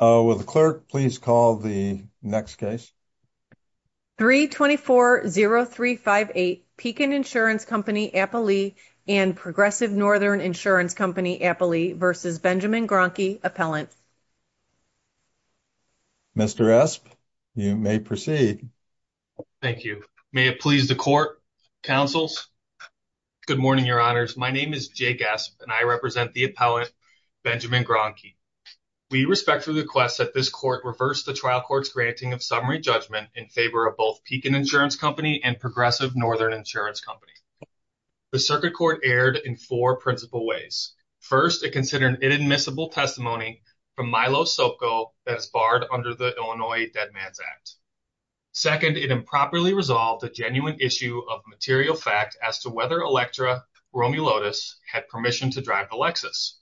324-0358, Pekin Insurance Co. and Progressive Northern Insurance Co. v. Benjamin Graunke, Appellant Mr. Esp, you may proceed. Thank you. May it please the Court, Councils, Good morning, Your Honors. My name is Jay Gasp and I represent the Appellant, Benjamin Graunke. We respectfully request that this Court reverse the Trial Court's granting of summary judgment in favor of both Pekin Insurance Co. and Progressive Northern Insurance Co. The Circuit Court erred in four principal ways. First, it considered an inadmissible testimony from Milo Soko that is barred under the Illinois Dead Man's Act. Second, it improperly resolved a genuine issue of material fact as to whether Electra Romulotis had permission to drive a Lexus.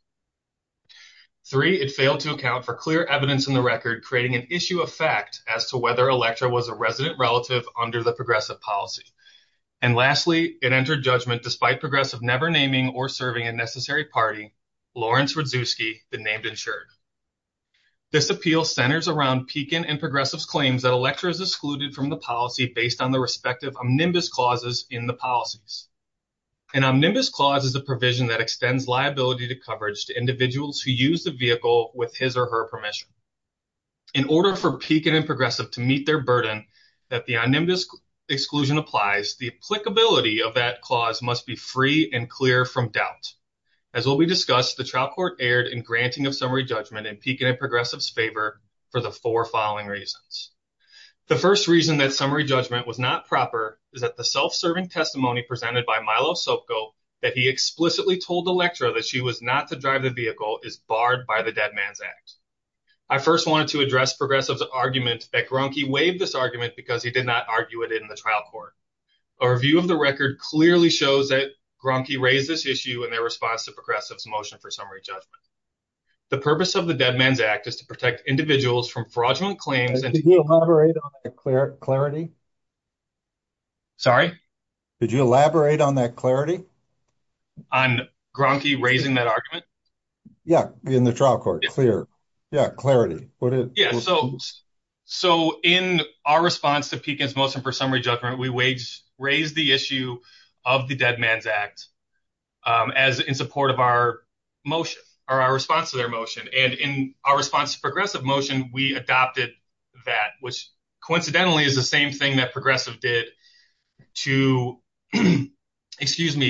Three, it failed to account for clear evidence in the record creating an issue of fact as to whether Electra was a resident relative under the Progressive policy. And lastly, it entered judgment despite Progressive never naming or serving a necessary party, Lawrence Radzewski, the named insured. This appeal centers around Pekin and Progressive's claims that Electra is excluded from the policy based on the respective omnibus clauses in the policies. An omnibus clause is a provision that extends liability to coverage to individuals who use the vehicle with his or her permission. In order for Pekin and Progressive to meet their burden that the omnibus exclusion applies, the applicability of that clause must be free and clear from doubt. As will be discussed, the Trial Court erred in granting of summary judgment in Pekin and Progressive's favor for the four following reasons. The first reason that summary judgment was not proper is that the self-serving testimony presented by Milo Sopko that he explicitly told Electra that she was not to drive the vehicle is barred by the Dead Man's Act. I first wanted to address Progressive's argument that Groenke waived this argument because he did not argue it in the Trial Court. A review of the record clearly shows that Groenke raised this issue in their response to Progressive's motion for summary judgment. The purpose of the Dead Man's Act is to protect individuals from fraudulent claims and to- Did you elaborate on the clarity? Sorry? Did you elaborate on that clarity? On Groenke raising that argument? Yeah, in the Trial Court. Yeah, clarity. So, in our response to Pekin's motion for summary judgment, we raised the issue of the Dead Man's Act in support of our motion, or our response to their motion. And in our response to Progressive's motion, we raised the issue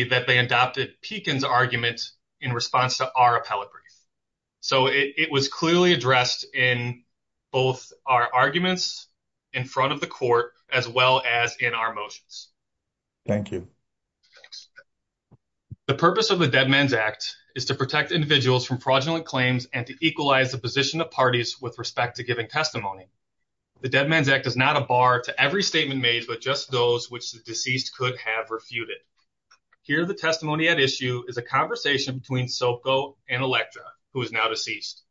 that they adopted Pekin's argument in response to our appellate brief. So, it was clearly addressed in both our arguments in front of the court as well as in our motions. Thank you. The purpose of the Dead Man's Act is to protect individuals from fraudulent claims and to equalize the position of parties with respect to giving testimony. The Dead Man's Act is not a to every statement made but just those which the deceased could have refuted. Here, the testimony at issue is a conversation between Soko and Elektra, who is now deceased.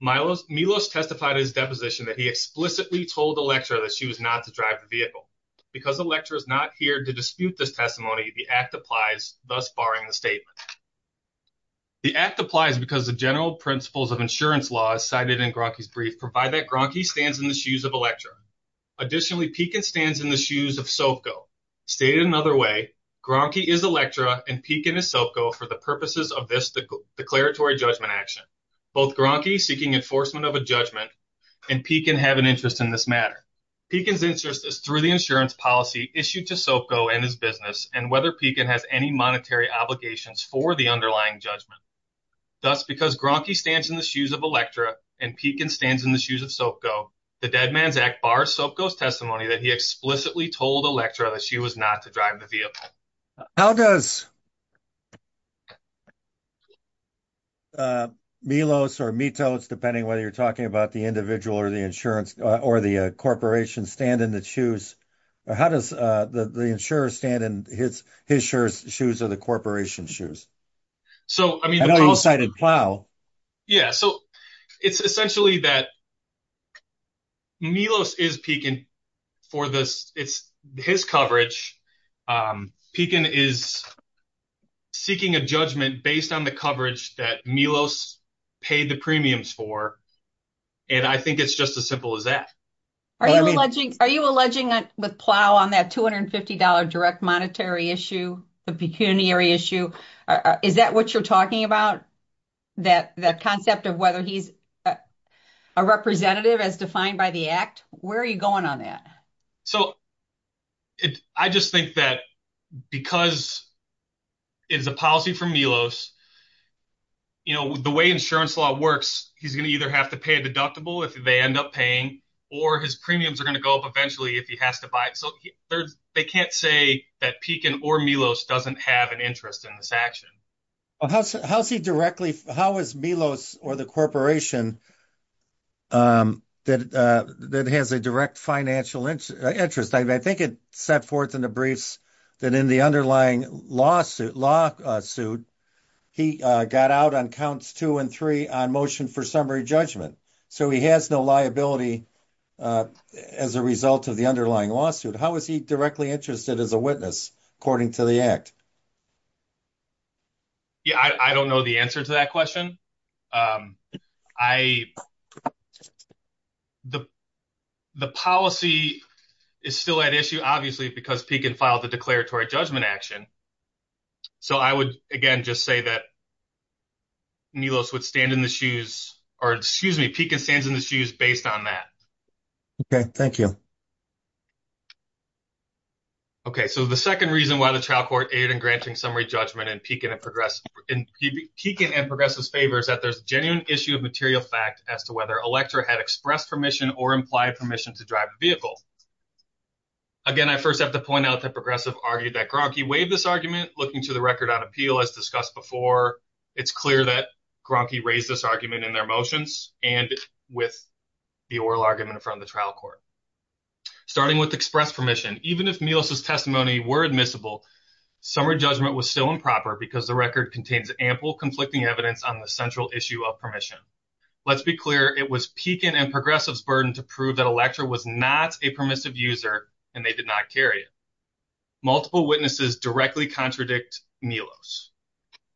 Milos testified in his deposition that he explicitly told Elektra that she was not to drive the vehicle. Because Elektra is not here to dispute this testimony, the Act applies, thus barring the statement. The Act applies because the general principles of insurance law, as cited in Groenke's brief, provide that Groenke stands in the shoes of Elektra. Additionally, Pekin stands in the shoes of Soko. Stated another way, Groenke is Elektra and Pekin is Soko for the purposes of this declaratory judgment action. Both Groenke, seeking enforcement of a judgment, and Pekin have an interest in this matter. Pekin's interest is through the insurance policy issued to Soko and his business and whether Pekin has any monetary obligations for the underlying judgment. Thus, because Groenke stands in the shoes of Elektra and Pekin stands in the shoes of Soko, the Dead Man's Act bars Soko's testimony that he explicitly told Elektra that she was not to drive the vehicle. How does Milos or Mitos, depending whether you're talking about the individual or the insurance or the corporation, stand in the shoes or how does the insurer stand in his insurer's shoes or the corporation's shoes? So, I mean... I know you cited Plough. Yeah, so it's essentially that Milos is Pekin for this, it's his coverage. Pekin is seeking a judgment based on the coverage that Milos paid the premiums for and I think it's just as simple as that. Are you alleging with Plough on that $250 direct monetary issue, the pecuniary issue, is that what you're talking about? That concept of whether he's a representative as defined by the act? Where are you going on that? So, I just think that because it is a policy from Milos, you know, the way insurance law works, he's going to either have to pay a deductible if they end up paying or his premiums are going to go up eventually if he has to buy it. So, they can't say that Pekin or Milos doesn't have an interest in this action. How is Milos or the corporation that has a direct financial interest? I think it set forth in the briefs that in the underlying lawsuit, he got out on counts two and three on motion for summary judgment. So, he has no liability as a result of the underlying lawsuit. How is he directly interested as a witness according to the act? I don't know the answer to that question. The policy is still at issue, obviously, because Pekin filed the declaratory judgment action. So, I would, again, just say that Milos would stand in the shoes or, excuse me, Pekin stands in the shoes based on that. Okay. Thank you. Okay. So, the second reason why the trial court aided in granting summary judgment and Pekin and Progressive's favor is that there's a genuine issue of material fact as to whether Elector had expressed permission or implied permission to drive a vehicle. Again, I first have to point out that Progressive argued that Gronky waived this argument, looking to the record on appeal as discussed before. It's clear that Gronky raised this argument in their motions and with the oral argument in front of the trial court. Starting with expressed permission, even if Milos' testimony were admissible, summary judgment was still improper because the record contains ample conflicting evidence on the central issue of permission. Let's be clear. It was Pekin and Progressive's burden to prove that Elector was not a permissive user and they did not carry it. Multiple witnesses directly contradict Milos.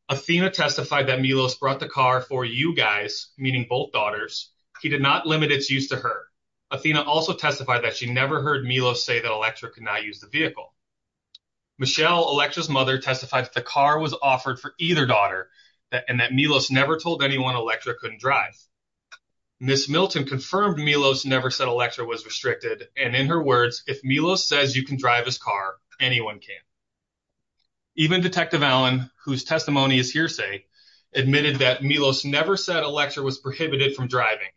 Athena testified that Milos brought the car for you guys, meaning both daughters. He did not limit its use to her. Athena also testified that she never heard Milos say that Elector could not use the vehicle. Michelle, Elector's mother, testified that the car was offered for either daughter and that Milos never told anyone Elector couldn't drive. Ms. Milton confirmed Milos never said Elector was restricted and in her words, if Milos says you can drive his car, anyone can. Even Detective Allen, whose testimony is hearsay, admitted that Milos never said Elector was prohibited from driving.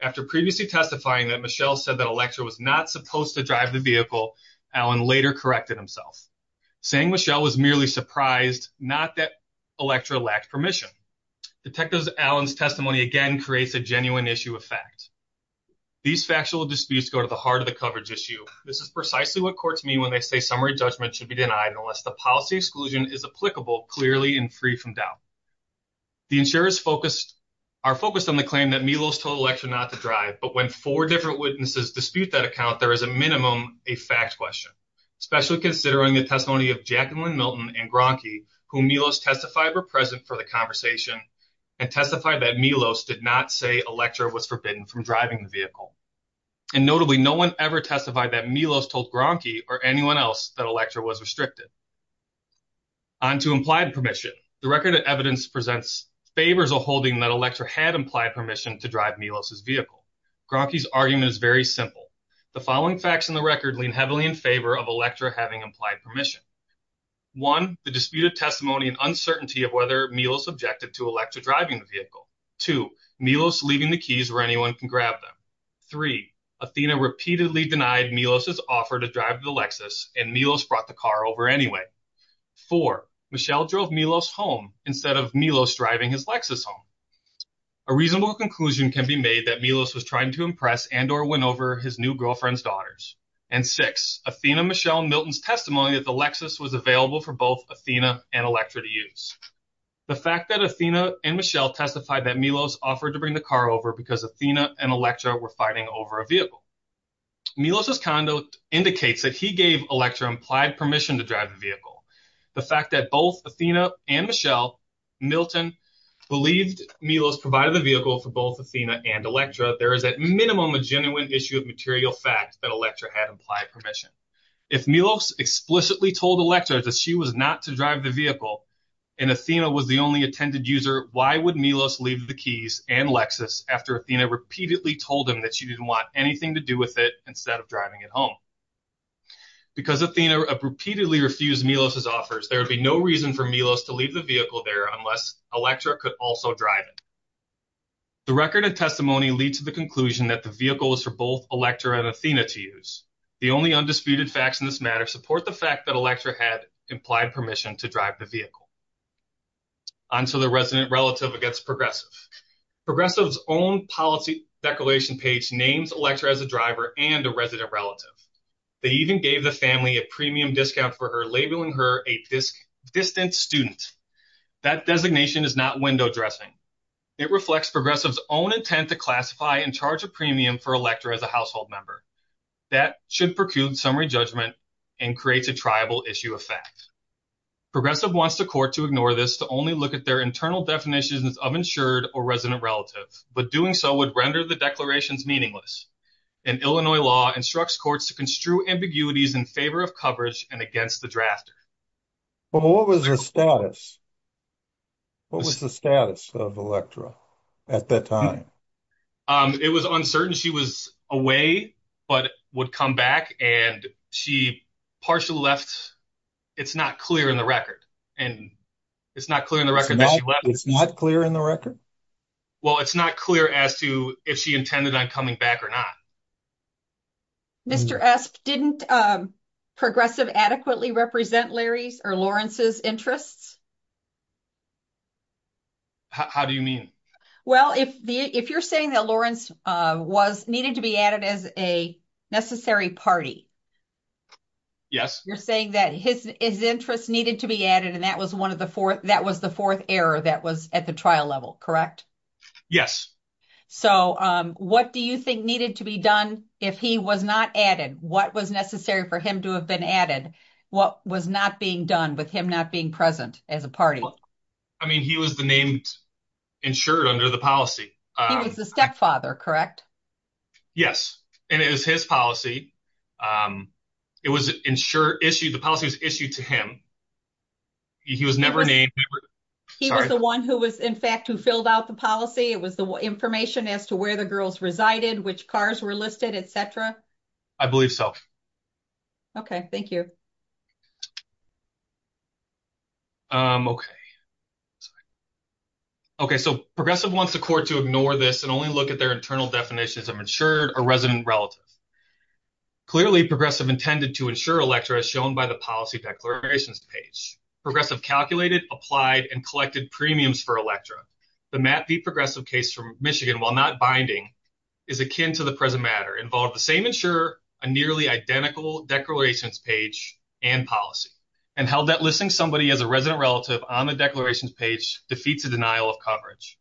After previously testifying that Michelle said that Elector was not supposed to drive the vehicle, Allen later corrected himself, saying Michelle was merely surprised not that Elector lacked permission. Detective Allen's testimony again creates a genuine issue of fact. These factual disputes go to the heart of the coverage issue. This is precisely what courts mean when they say summary judgment should be denied unless the policy exclusion is applicable clearly and free from doubt. The insurers are focused on the claim that Milos told Elector not to drive, but when four different witnesses dispute that account, there is a minimum a fact question, especially considering the testimony of Jacqueline Milton and Gronke, who Milos testified were present for the conversation and testified that Milos did not say Elector was forbidden from driving the vehicle. And notably, no one ever testified that Milos told Gronke or anyone else that Elector was restricted. On to implied permission. The record of evidence presents favors a holding that Elector had implied permission to drive Milos's vehicle. Gronke's argument is very simple. The following facts in the record lean heavily in favor of Elector having implied permission. One, the disputed testimony and uncertainty of whether Milos objected to Elector driving the vehicle. Two, Milos leaving the keys where anyone can grab them. Three, Athena repeatedly denied Milos's offer to drive the Lexus and Milos brought the car over anyway. Four, Michelle drove Milos home instead of Milos driving his Lexus home. A reasonable conclusion can be made that Milos was trying to impress and or win over his new girlfriend's daughters. And six, Athena, Michelle, Milton's testimony that the Lexus was available for both Athena and Elector to use. The fact that Athena and Michelle testified that Milos offered to bring the car over because Athena and Elector were fighting over a vehicle. Milos's conduct indicates that he gave Elector implied permission to drive the vehicle. The fact that both Athena and Michelle, Milton, believed Milos provided the vehicle for both Athena and Elector, there is at minimum a genuine issue of material fact that Elector had implied permission. If Milos explicitly told Elector that she was not to drive the vehicle and Athena was the only attended user, why would Milos leave the keys and Lexus after Athena repeatedly told him that she didn't want anything to do with it instead of driving it home? Because Athena repeatedly refused Milos's offers, there would be no reason for Milos to leave the vehicle there unless Elector could also drive it. The record of testimony leads to the conclusion that the vehicle is for both Elector and Athena to use. The only undisputed facts in this matter support the fact that Elector had implied permission to drive the vehicle. On to the resident relative against progressive. Progressive's own policy declaration page names Elector as a driver and a resident relative. They even gave the family a premium discount for her, labeling her a distant student. That designation is not window dressing. It reflects Progressive's own intent to classify and charge a premium for Elector as a household member. That should preclude summary judgment and creates a triable issue of fact. Progressive wants the court to ignore this to only look at their internal definitions of insured or resident relative, but doing so would render the declarations meaningless. And Illinois law instructs courts to construe ambiguities in favor of coverage and against the drafter. But what was her status? What was the status of Electra at that time? It was uncertain. She was away, but would come back and she partially left. It's not clear in the record. And it's not clear in the record that she left. It's not clear in the record? Well, it's not clear as to if she intended on coming back or not. Mr. Esp, didn't Progressive adequately represent Larry's or Lawrence's interests? How do you mean? Well, if you're saying that Lawrence was needed to be added as a necessary party. Yes. You're saying that his interest needed to be added and that was one of the fourth. That was the fourth error that was at the trial level, correct? So what do you think needed to be done if he was not added? What was necessary for him to have been added? What was not being done with him not being present as a party? I mean, he was the named insured under the policy. He was the stepfather, correct? Yes. And it was his policy. It was insured issued. The policy was issued to him. He was never named. He was the one who was, in fact, who filled out the policy. It was the information as to where the girls resided, which cars were listed, etc. I believe so. Okay. Thank you. Um, okay. Okay. So Progressive wants the court to ignore this and only look at their internal definitions of insured or resident relative. Clearly, Progressive intended to insure Electra as shown by the policy declarations page. Progressive calculated, applied, and collected premiums for Electra. The Matt V. Progressive case from Michigan, while not binding, is akin to the present matter, involved the same insurer, a nearly identical declarations page, and policy, and held that listing somebody as a resident relative on the declarations page defeats a denial of coverage.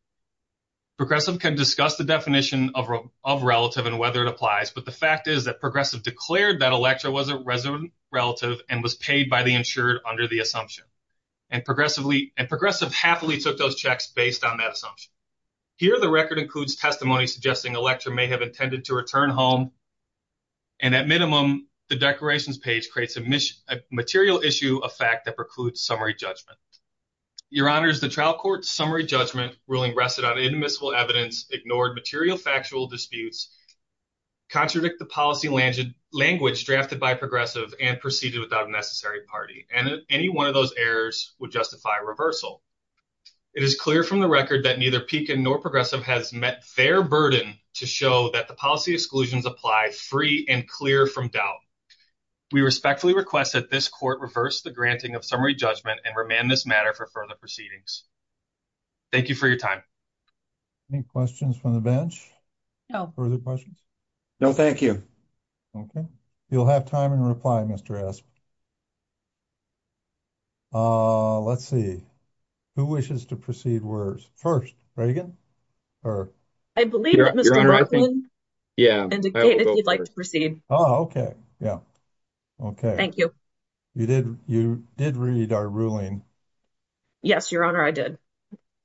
Progressive can discuss the definition of relative and whether it applies, but the fact is that Progressive declared that Electra was a resident relative and was paid by the insured under the assumption. And Progressive happily took those checks based on that assumption. Here, the record includes testimony suggesting Electra may have intended to return home, and at minimum, the declarations page creates a material issue of fact that precludes summary judgment. Your Honors, the trial court's summary judgment ruling rested on inadmissible evidence, ignored material factual disputes, contradicted the policy language drafted by Progressive, and proceeded without a necessary party. And any one of those errors would justify reversal. It is clear from the record that neither Pekin nor Progressive has met their burden to show that the policy exclusions apply free and clear from doubt. We respectfully request that this court reverse the granting of summary judgment and remand this matter for further proceedings. Thank you for your time. Any questions from the bench? No. Further questions? No, thank you. Okay. You'll have time in reply, Mr. Asp. Let's see. Who wishes to proceed first? Or? I believe that Mr. Martin indicated he'd like to proceed. Oh, okay. Yeah. Okay. Thank you. You did read our ruling. Yes, Your Honor, I did.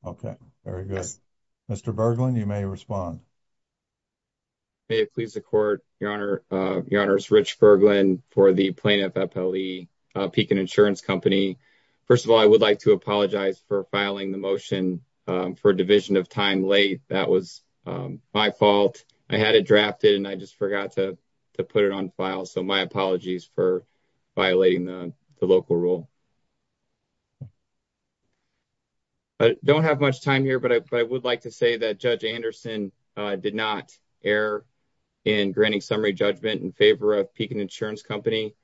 Okay, very good. Mr. Berglund, you may respond. May it please the court, Your Honor. Your Honor, it's Rich Berglund for the plaintiff, FLE, Pekin Insurance Company. First of all, I would like to apologize for filing the motion for a division of time late. That was my fault. I had it drafted, and I just forgot to put it on file. So my apologies for violating the local rule. I don't have much time here, but I would like to say that Judge Anderson did not err in granting summary judgment in favor of Pekin Insurance Company.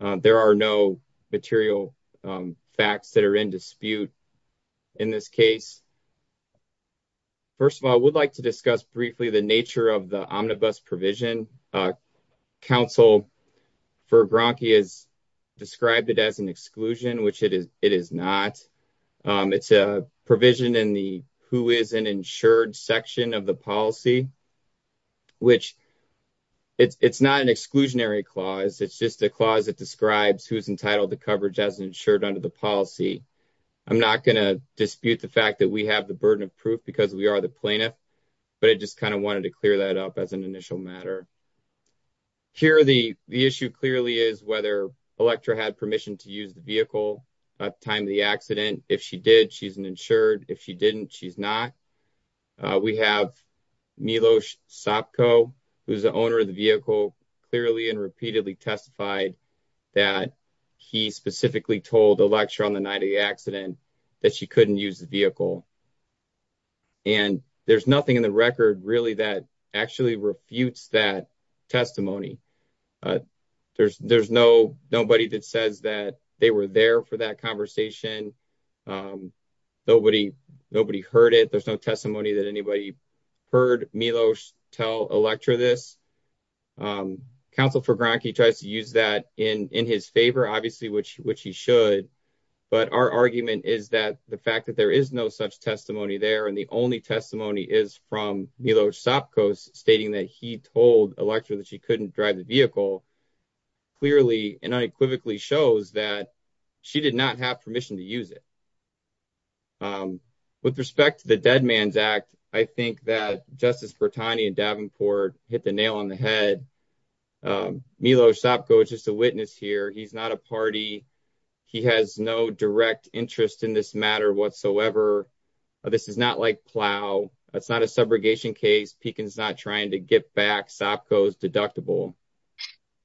There are no material facts that are in dispute in this case. First of all, I would like to discuss briefly the nature of the omnibus provision. Counsel for Bronke has described it as an exclusion, which it is not. It's a provision in the who is an insured section of the policy, which it's not an exclusionary clause. It's just a clause that describes who's entitled to coverage as insured under the policy. I'm not going to dispute the fact that we have the burden of proof because we are the plaintiff, but I just kind of wanted to clear that up as an initial matter. Here, the issue clearly is whether Electra had permission to use the vehicle at the time of the accident. If she did, she's an insured. If she didn't, she's not. We have Milos Sopko, who's the owner of the vehicle, clearly and repeatedly testified that he specifically told Electra on the night of the accident that she couldn't use the vehicle. And there's nothing in the record really that actually refutes that testimony. But there's there's no nobody that says that they were there for that conversation. Nobody heard it. There's no testimony that anybody heard Milos tell Electra this. Counsel for Bronke tries to use that in his favor, obviously, which he should. But our argument is that the fact that there is no such testimony there and the only testimony is from Milos Sopko stating that he told Electra that she couldn't drive the vehicle clearly and unequivocally shows that she did not have permission to use it. With respect to the Dead Man's Act, I think that Justice Bertani and Davenport hit the nail on the head. Milos Sopko is just a witness here. He's not a party. He has no direct interest in this matter whatsoever. This is not like Plow. It's not a subrogation case. Pekin's not trying to get back Sopko's deductible.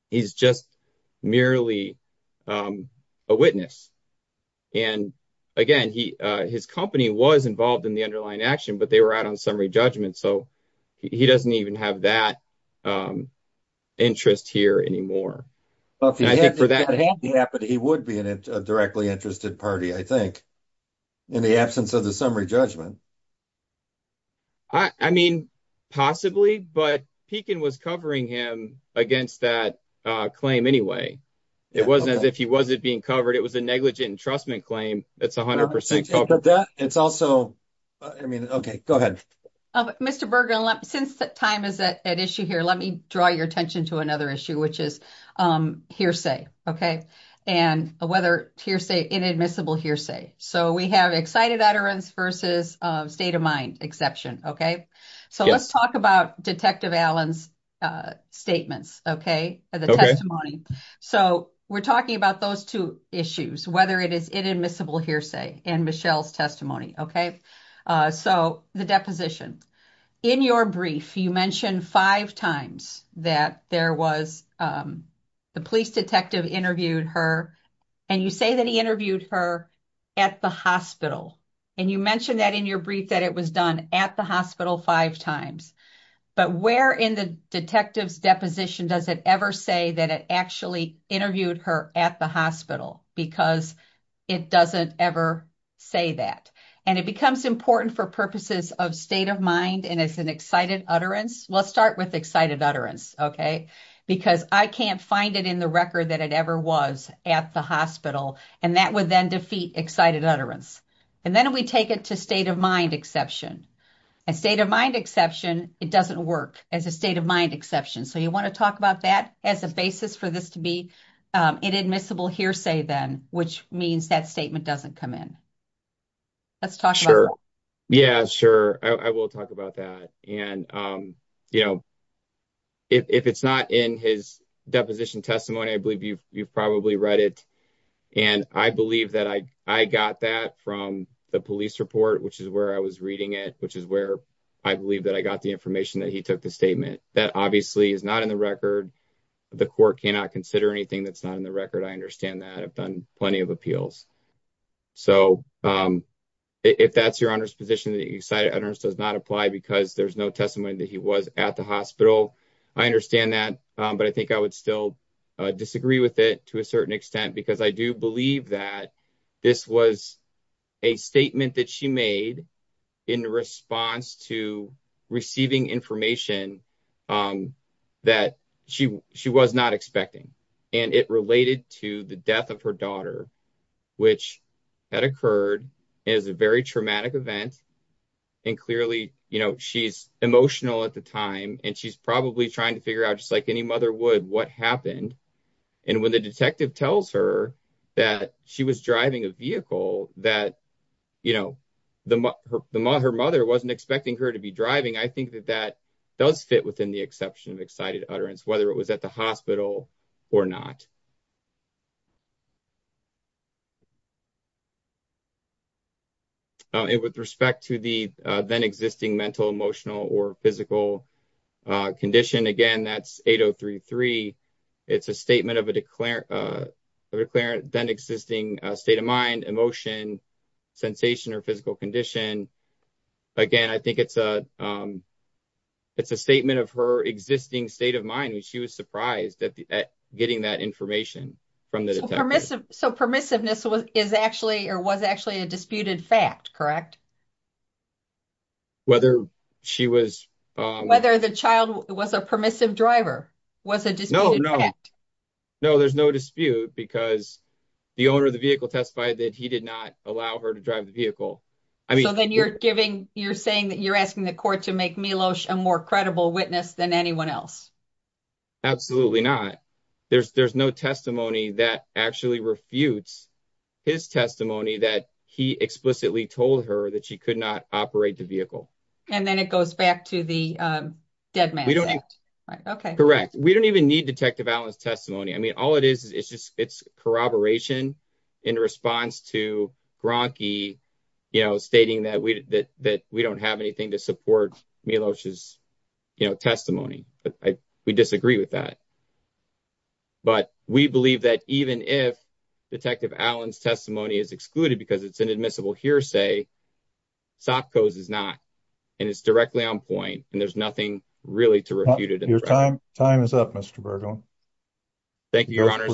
He's just merely a witness. And again, his company was involved in the underlying action, but they were out on summary judgment. So he doesn't even have that interest here anymore. He would be in a directly interested party, I think, in the absence of the summary judgment. I mean, possibly. But Pekin was covering him against that claim anyway. It wasn't as if he wasn't being covered. It was a negligent entrustment claim. It's 100% covered. But that, it's also, I mean, okay, go ahead. Mr. Bergen, since time is at issue here, let me draw your attention to another issue, which is hearsay, okay? And whether hearsay, inadmissible hearsay. So we have excited utterance versus state of mind exception, okay? So let's talk about Detective Allen's statements, okay? The testimony. So we're talking about those two issues, whether it is inadmissible hearsay and Michelle's testimony, okay? So the deposition. In your brief, you mentioned five times that there was, the police detective interviewed her. And you say that he interviewed her at the hospital. And you mentioned that in your brief that it was done at the hospital five times. But where in the detective's deposition does it ever say that it actually interviewed her at the hospital? Because it doesn't ever say that. And it becomes important for purposes of state of mind and as an excited utterance. Let's start with excited utterance, okay? Because I can't find it in the record that it ever was at the hospital. And that would then defeat excited utterance. And then we take it to state of mind exception. A state of mind exception, it doesn't work as a state of mind exception. So you want to talk about that as a basis for this to be inadmissible hearsay then, which means that statement doesn't come in. Let's talk about that. Sure, yeah, sure. I will talk about that. And if it's not in his deposition testimony, I believe you've probably read it. And I believe that I got that from the police report, which is where I was reading it, which is where I believe that I got the information that he took the statement. That obviously is not in the record. The court cannot consider anything that's not in the record. I understand that. I've done plenty of appeals. So if that's your honor's position that excited utterance does not apply because there's no testimony that he was at the hospital. I understand that. But I think I would still disagree with it to a certain extent, because I do believe that this was a statement that she made in response to receiving information that she was not expecting. And it related to the death of her daughter, which had occurred as a very traumatic event. And clearly, you know, she's emotional at the time. And she's probably trying to figure out just like any mother would what happened. And when the detective tells her that she was driving a vehicle that, you know, her mother wasn't expecting her to be driving. I think that that does fit within the exception of excited utterance, whether it was at the hospital or not. And with respect to the then existing mental, emotional or physical condition, again, that's 8033. It's a statement of a declarant, a declarant, then existing state of mind, emotion, sensation or physical condition. Again, I think it's a it's a statement of her existing state of mind. And she was surprised at getting that information. From the permissive. So permissiveness was is actually or was actually a disputed fact, correct? Whether she was, whether the child was a permissive driver was a no, no, no, there's no dispute because the owner of the vehicle testified that he did not allow her to drive the vehicle. I mean, then you're giving you're saying that you're asking the court to make me lotion more credible witness than anyone else. Absolutely not. There's there's no testimony that actually refutes his testimony that he explicitly told her that she could not operate the vehicle. And then it goes back to the dead man. OK, correct. We don't even need Detective Allen's testimony. I mean, all it is, it's just it's corroboration in response to Gronke, you know, stating that we that that we don't have anything to support me. You know, testimony, we disagree with that. But we believe that even if Detective Allen's testimony is excluded because it's an admissible hearsay, Sopko's is not. And it's directly on point. And there's nothing really to refute it in your time. Time is up, Mr Bergman. Thank you, Your Honor.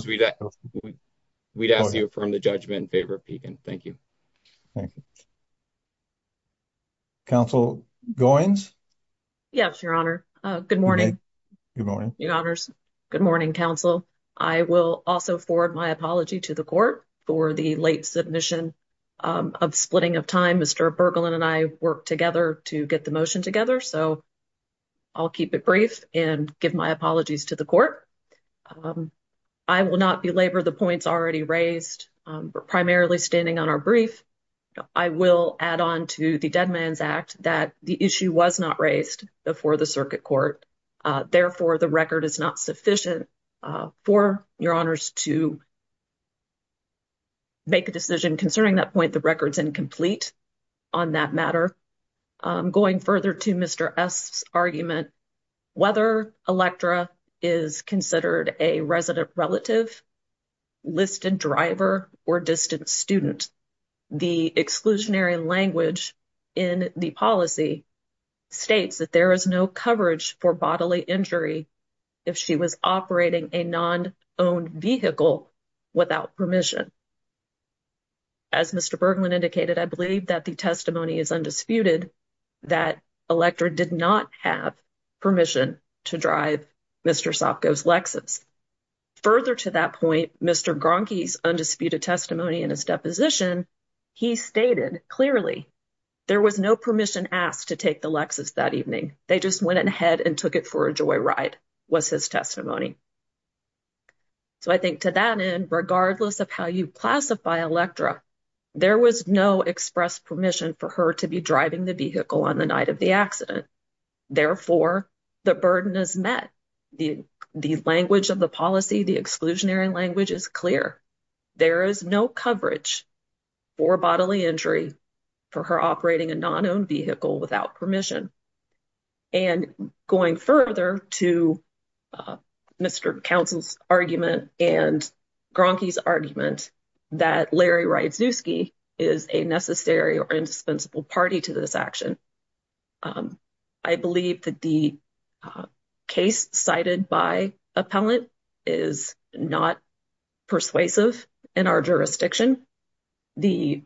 We'd ask you from the judgment in favor of Pagan. Thank you. Thank you. Counsel Goins? Yes, Your Honor. Good morning. Good morning, Your Honors. Good morning, Counsel. I will also forward my apology to the court for the late submission of splitting of time. Mr. Bergman and I worked together to get the motion together. So I'll keep it brief and give my apologies to the court. I will not belabor the points already raised, primarily standing on our brief. I will add on to the Dead Man's Act that the issue was not raised before the circuit court. Therefore, the record is not sufficient for Your Honors to make a decision concerning that point. The record's incomplete on that matter. Going further to Mr. Esf's argument, whether Electra is considered a resident relative, listed driver, or distant student, the exclusionary language in the policy states that there is no coverage for bodily injury if she was operating a non-owned vehicle without permission. As Mr. Bergman indicated, I believe that the testimony is undisputed that Electra did not have permission to drive Mr. Sopko's Lexus. Further to that point, Mr. Gronke's undisputed testimony in his deposition, he stated clearly there was no permission asked to take the Lexus that evening. They just went ahead and took it for a joy ride, was his testimony. So I think to that end, regardless of how you classify Electra, there was no express permission for her to be driving the vehicle on the night of the accident. Therefore, the burden is met. The language of the policy, the exclusionary language, is clear. There is no coverage for bodily injury for her operating a non-owned vehicle without permission. And going further to Mr. Counsel's argument and Gronke's argument that Larry Rydzewski is a necessary or indispensable party to this action, I believe that the case cited by Appellant is not persuasive in our jurisdiction. The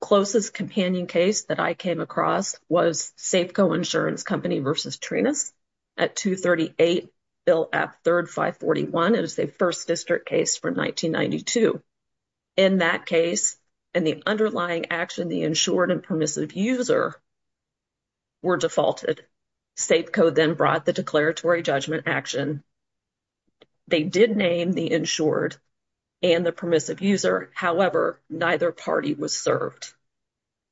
closest companion case that I came across was Safeco Insurance Company v. Trinus at 238 Bill F. 3rd, 541. It was the first district case from 1992. In that case, and the underlying action, the insured and permissive user were defaulted. Safeco then brought the declaratory judgment action. They did name the insured and the permissive user. However, neither party was served.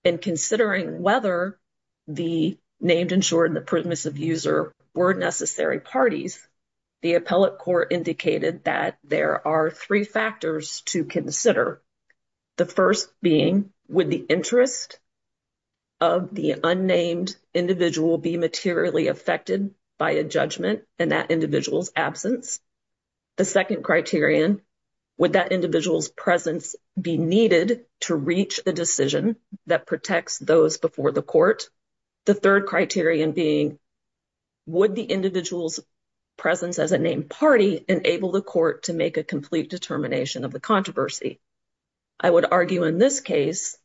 And considering whether the named insured and the permissive user were necessary parties, the appellate court indicated that there are three factors to consider. The first being, would the interest of the unnamed individual be materially affected by a judgment in that individual's absence? The second criterion, would that individual's presence be needed to reach a decision that protects those before the court? The third criterion being, would the individual's presence as a named party enable the court to make a complete determination of the controversy? I would argue in this case,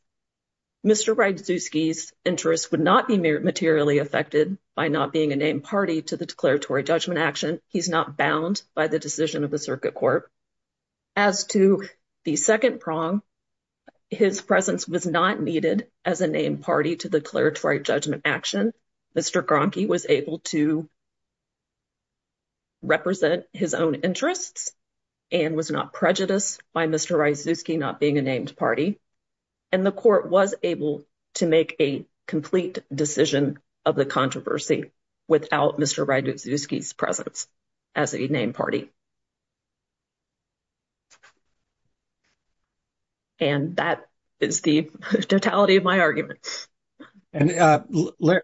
Mr. Brzezinski's interest would not be materially affected by not being a named party to the declaratory judgment action. He's not bound by the decision of the circuit court. As to the second prong, his presence was not needed as a named party to the declaratory judgment action. Mr. Gronke was able to represent his own interests and was not prejudiced by Mr. Brzezinski not being a named party. And the court was able to make a complete decision of the controversy without Mr. Brzezinski's presence as a named party. And that is the totality of my argument. And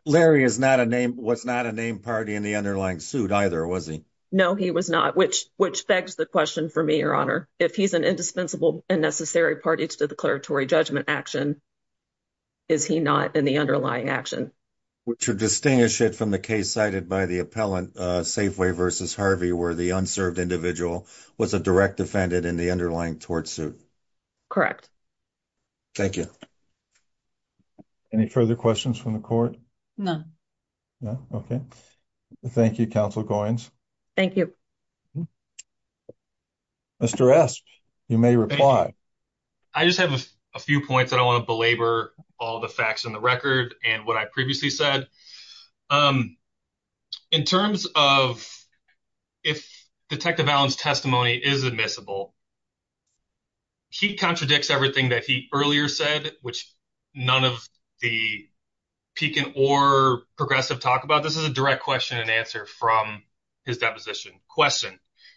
Larry was not a named party in the underlying suit either, was he? No, he was not, which begs the question for me, Your Honor. If he's an indispensable and necessary party to the declaratory judgment action, is he not in the underlying action? To distinguish it from the case cited by the appellant, Safeway v. Harvey, where the unserved individual was a direct defendant in the underlying tort suit? Correct. Thank you. Any further questions from the court? Okay, thank you, Counsel Goynes. Thank you. Mr. Resch, you may reply. I just have a few points that I want to belabor, all the facts in the record and what I previously said. Um, in terms of if Detective Allen's testimony is admissible, he contradicts everything that he earlier said, which none of the Pekin or Progressive talk about. This is a direct question and answer from his deposition.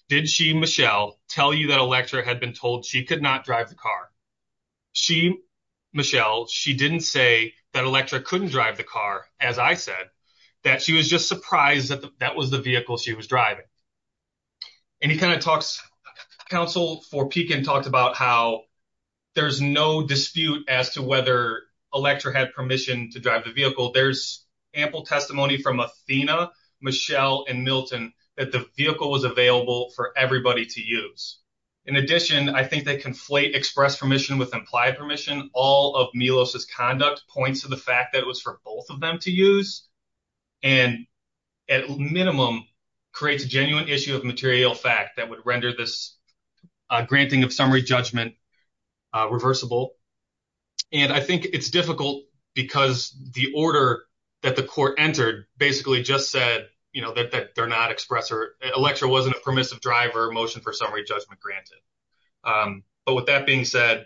Did she, Michelle, tell you that Electra had been told she could not drive the car? She, Michelle, she didn't say that Electra couldn't drive the car, as I said, that she was just surprised that that was the vehicle she was driving. And he kind of talks, Counsel for Pekin talked about how there's no dispute as to whether Electra had permission to drive the vehicle. There's ample testimony from Athena, Michelle, and Milton that the vehicle was available for everybody to use. In addition, I think they conflate express permission with implied permission. All of Milos' conduct points to the fact that it was for both of them to use, and at minimum, creates a genuine issue of material fact that would render this granting of summary judgment reversible. And I think it's difficult because the order that the court entered basically just said, you know, that they're not expressing, Electra wasn't a permissive driver motion for summary judgment granted. But with that being said,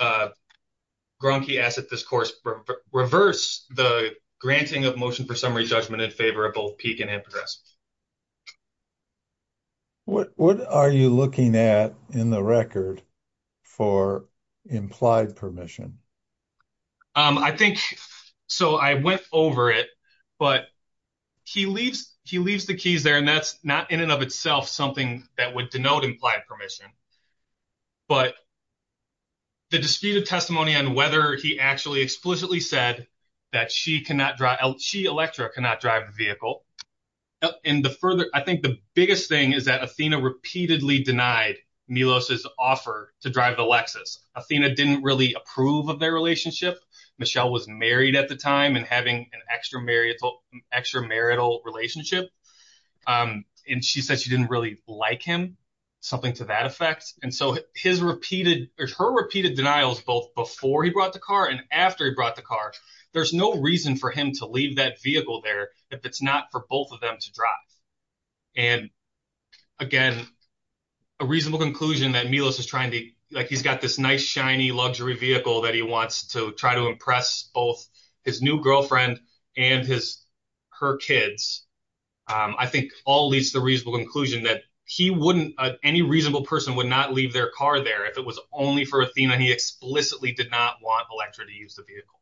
Grunke asked that this course reverse the granting of motion for summary judgment in favor of both Pekin and Progressive. What are you looking at in the record for implied permission? I think, so I went over it, but he leaves the keys there, and that's not in and of itself something that would denote implied permission. But the disputed testimony on whether he actually explicitly said that she cannot drive, she, Electra, cannot drive the vehicle. And the further, I think the biggest thing is that Athena repeatedly denied Milos' offer to drive the Lexus. Athena didn't really approve of their relationship. Michelle was married at the time and having an extramarital relationship. And she said she didn't really like him, something to that effect. And so his repeated or her repeated denials, both before he brought the car and after he brought the car, there's no reason for him to leave that vehicle there if it's not for both of them to drive. And again, a reasonable conclusion that Milos is trying to, like he's got this nice, shiny luxury vehicle that he wants to try to impress both his new girlfriend and his, her kids. I think all leads to the reasonable conclusion that he wouldn't, any reasonable person would not leave their car there if it was only for Athena. He explicitly did not want Electra to use the vehicle.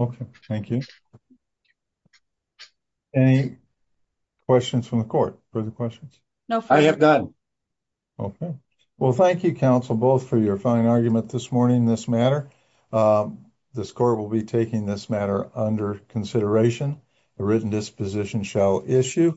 Okay, thank you. Any questions from the court? Further questions? No. I have none. Okay. Well, thank you, counsel, both for your fine argument this morning in this matter. The score will be taking this matter under consideration. The written disposition shall issue.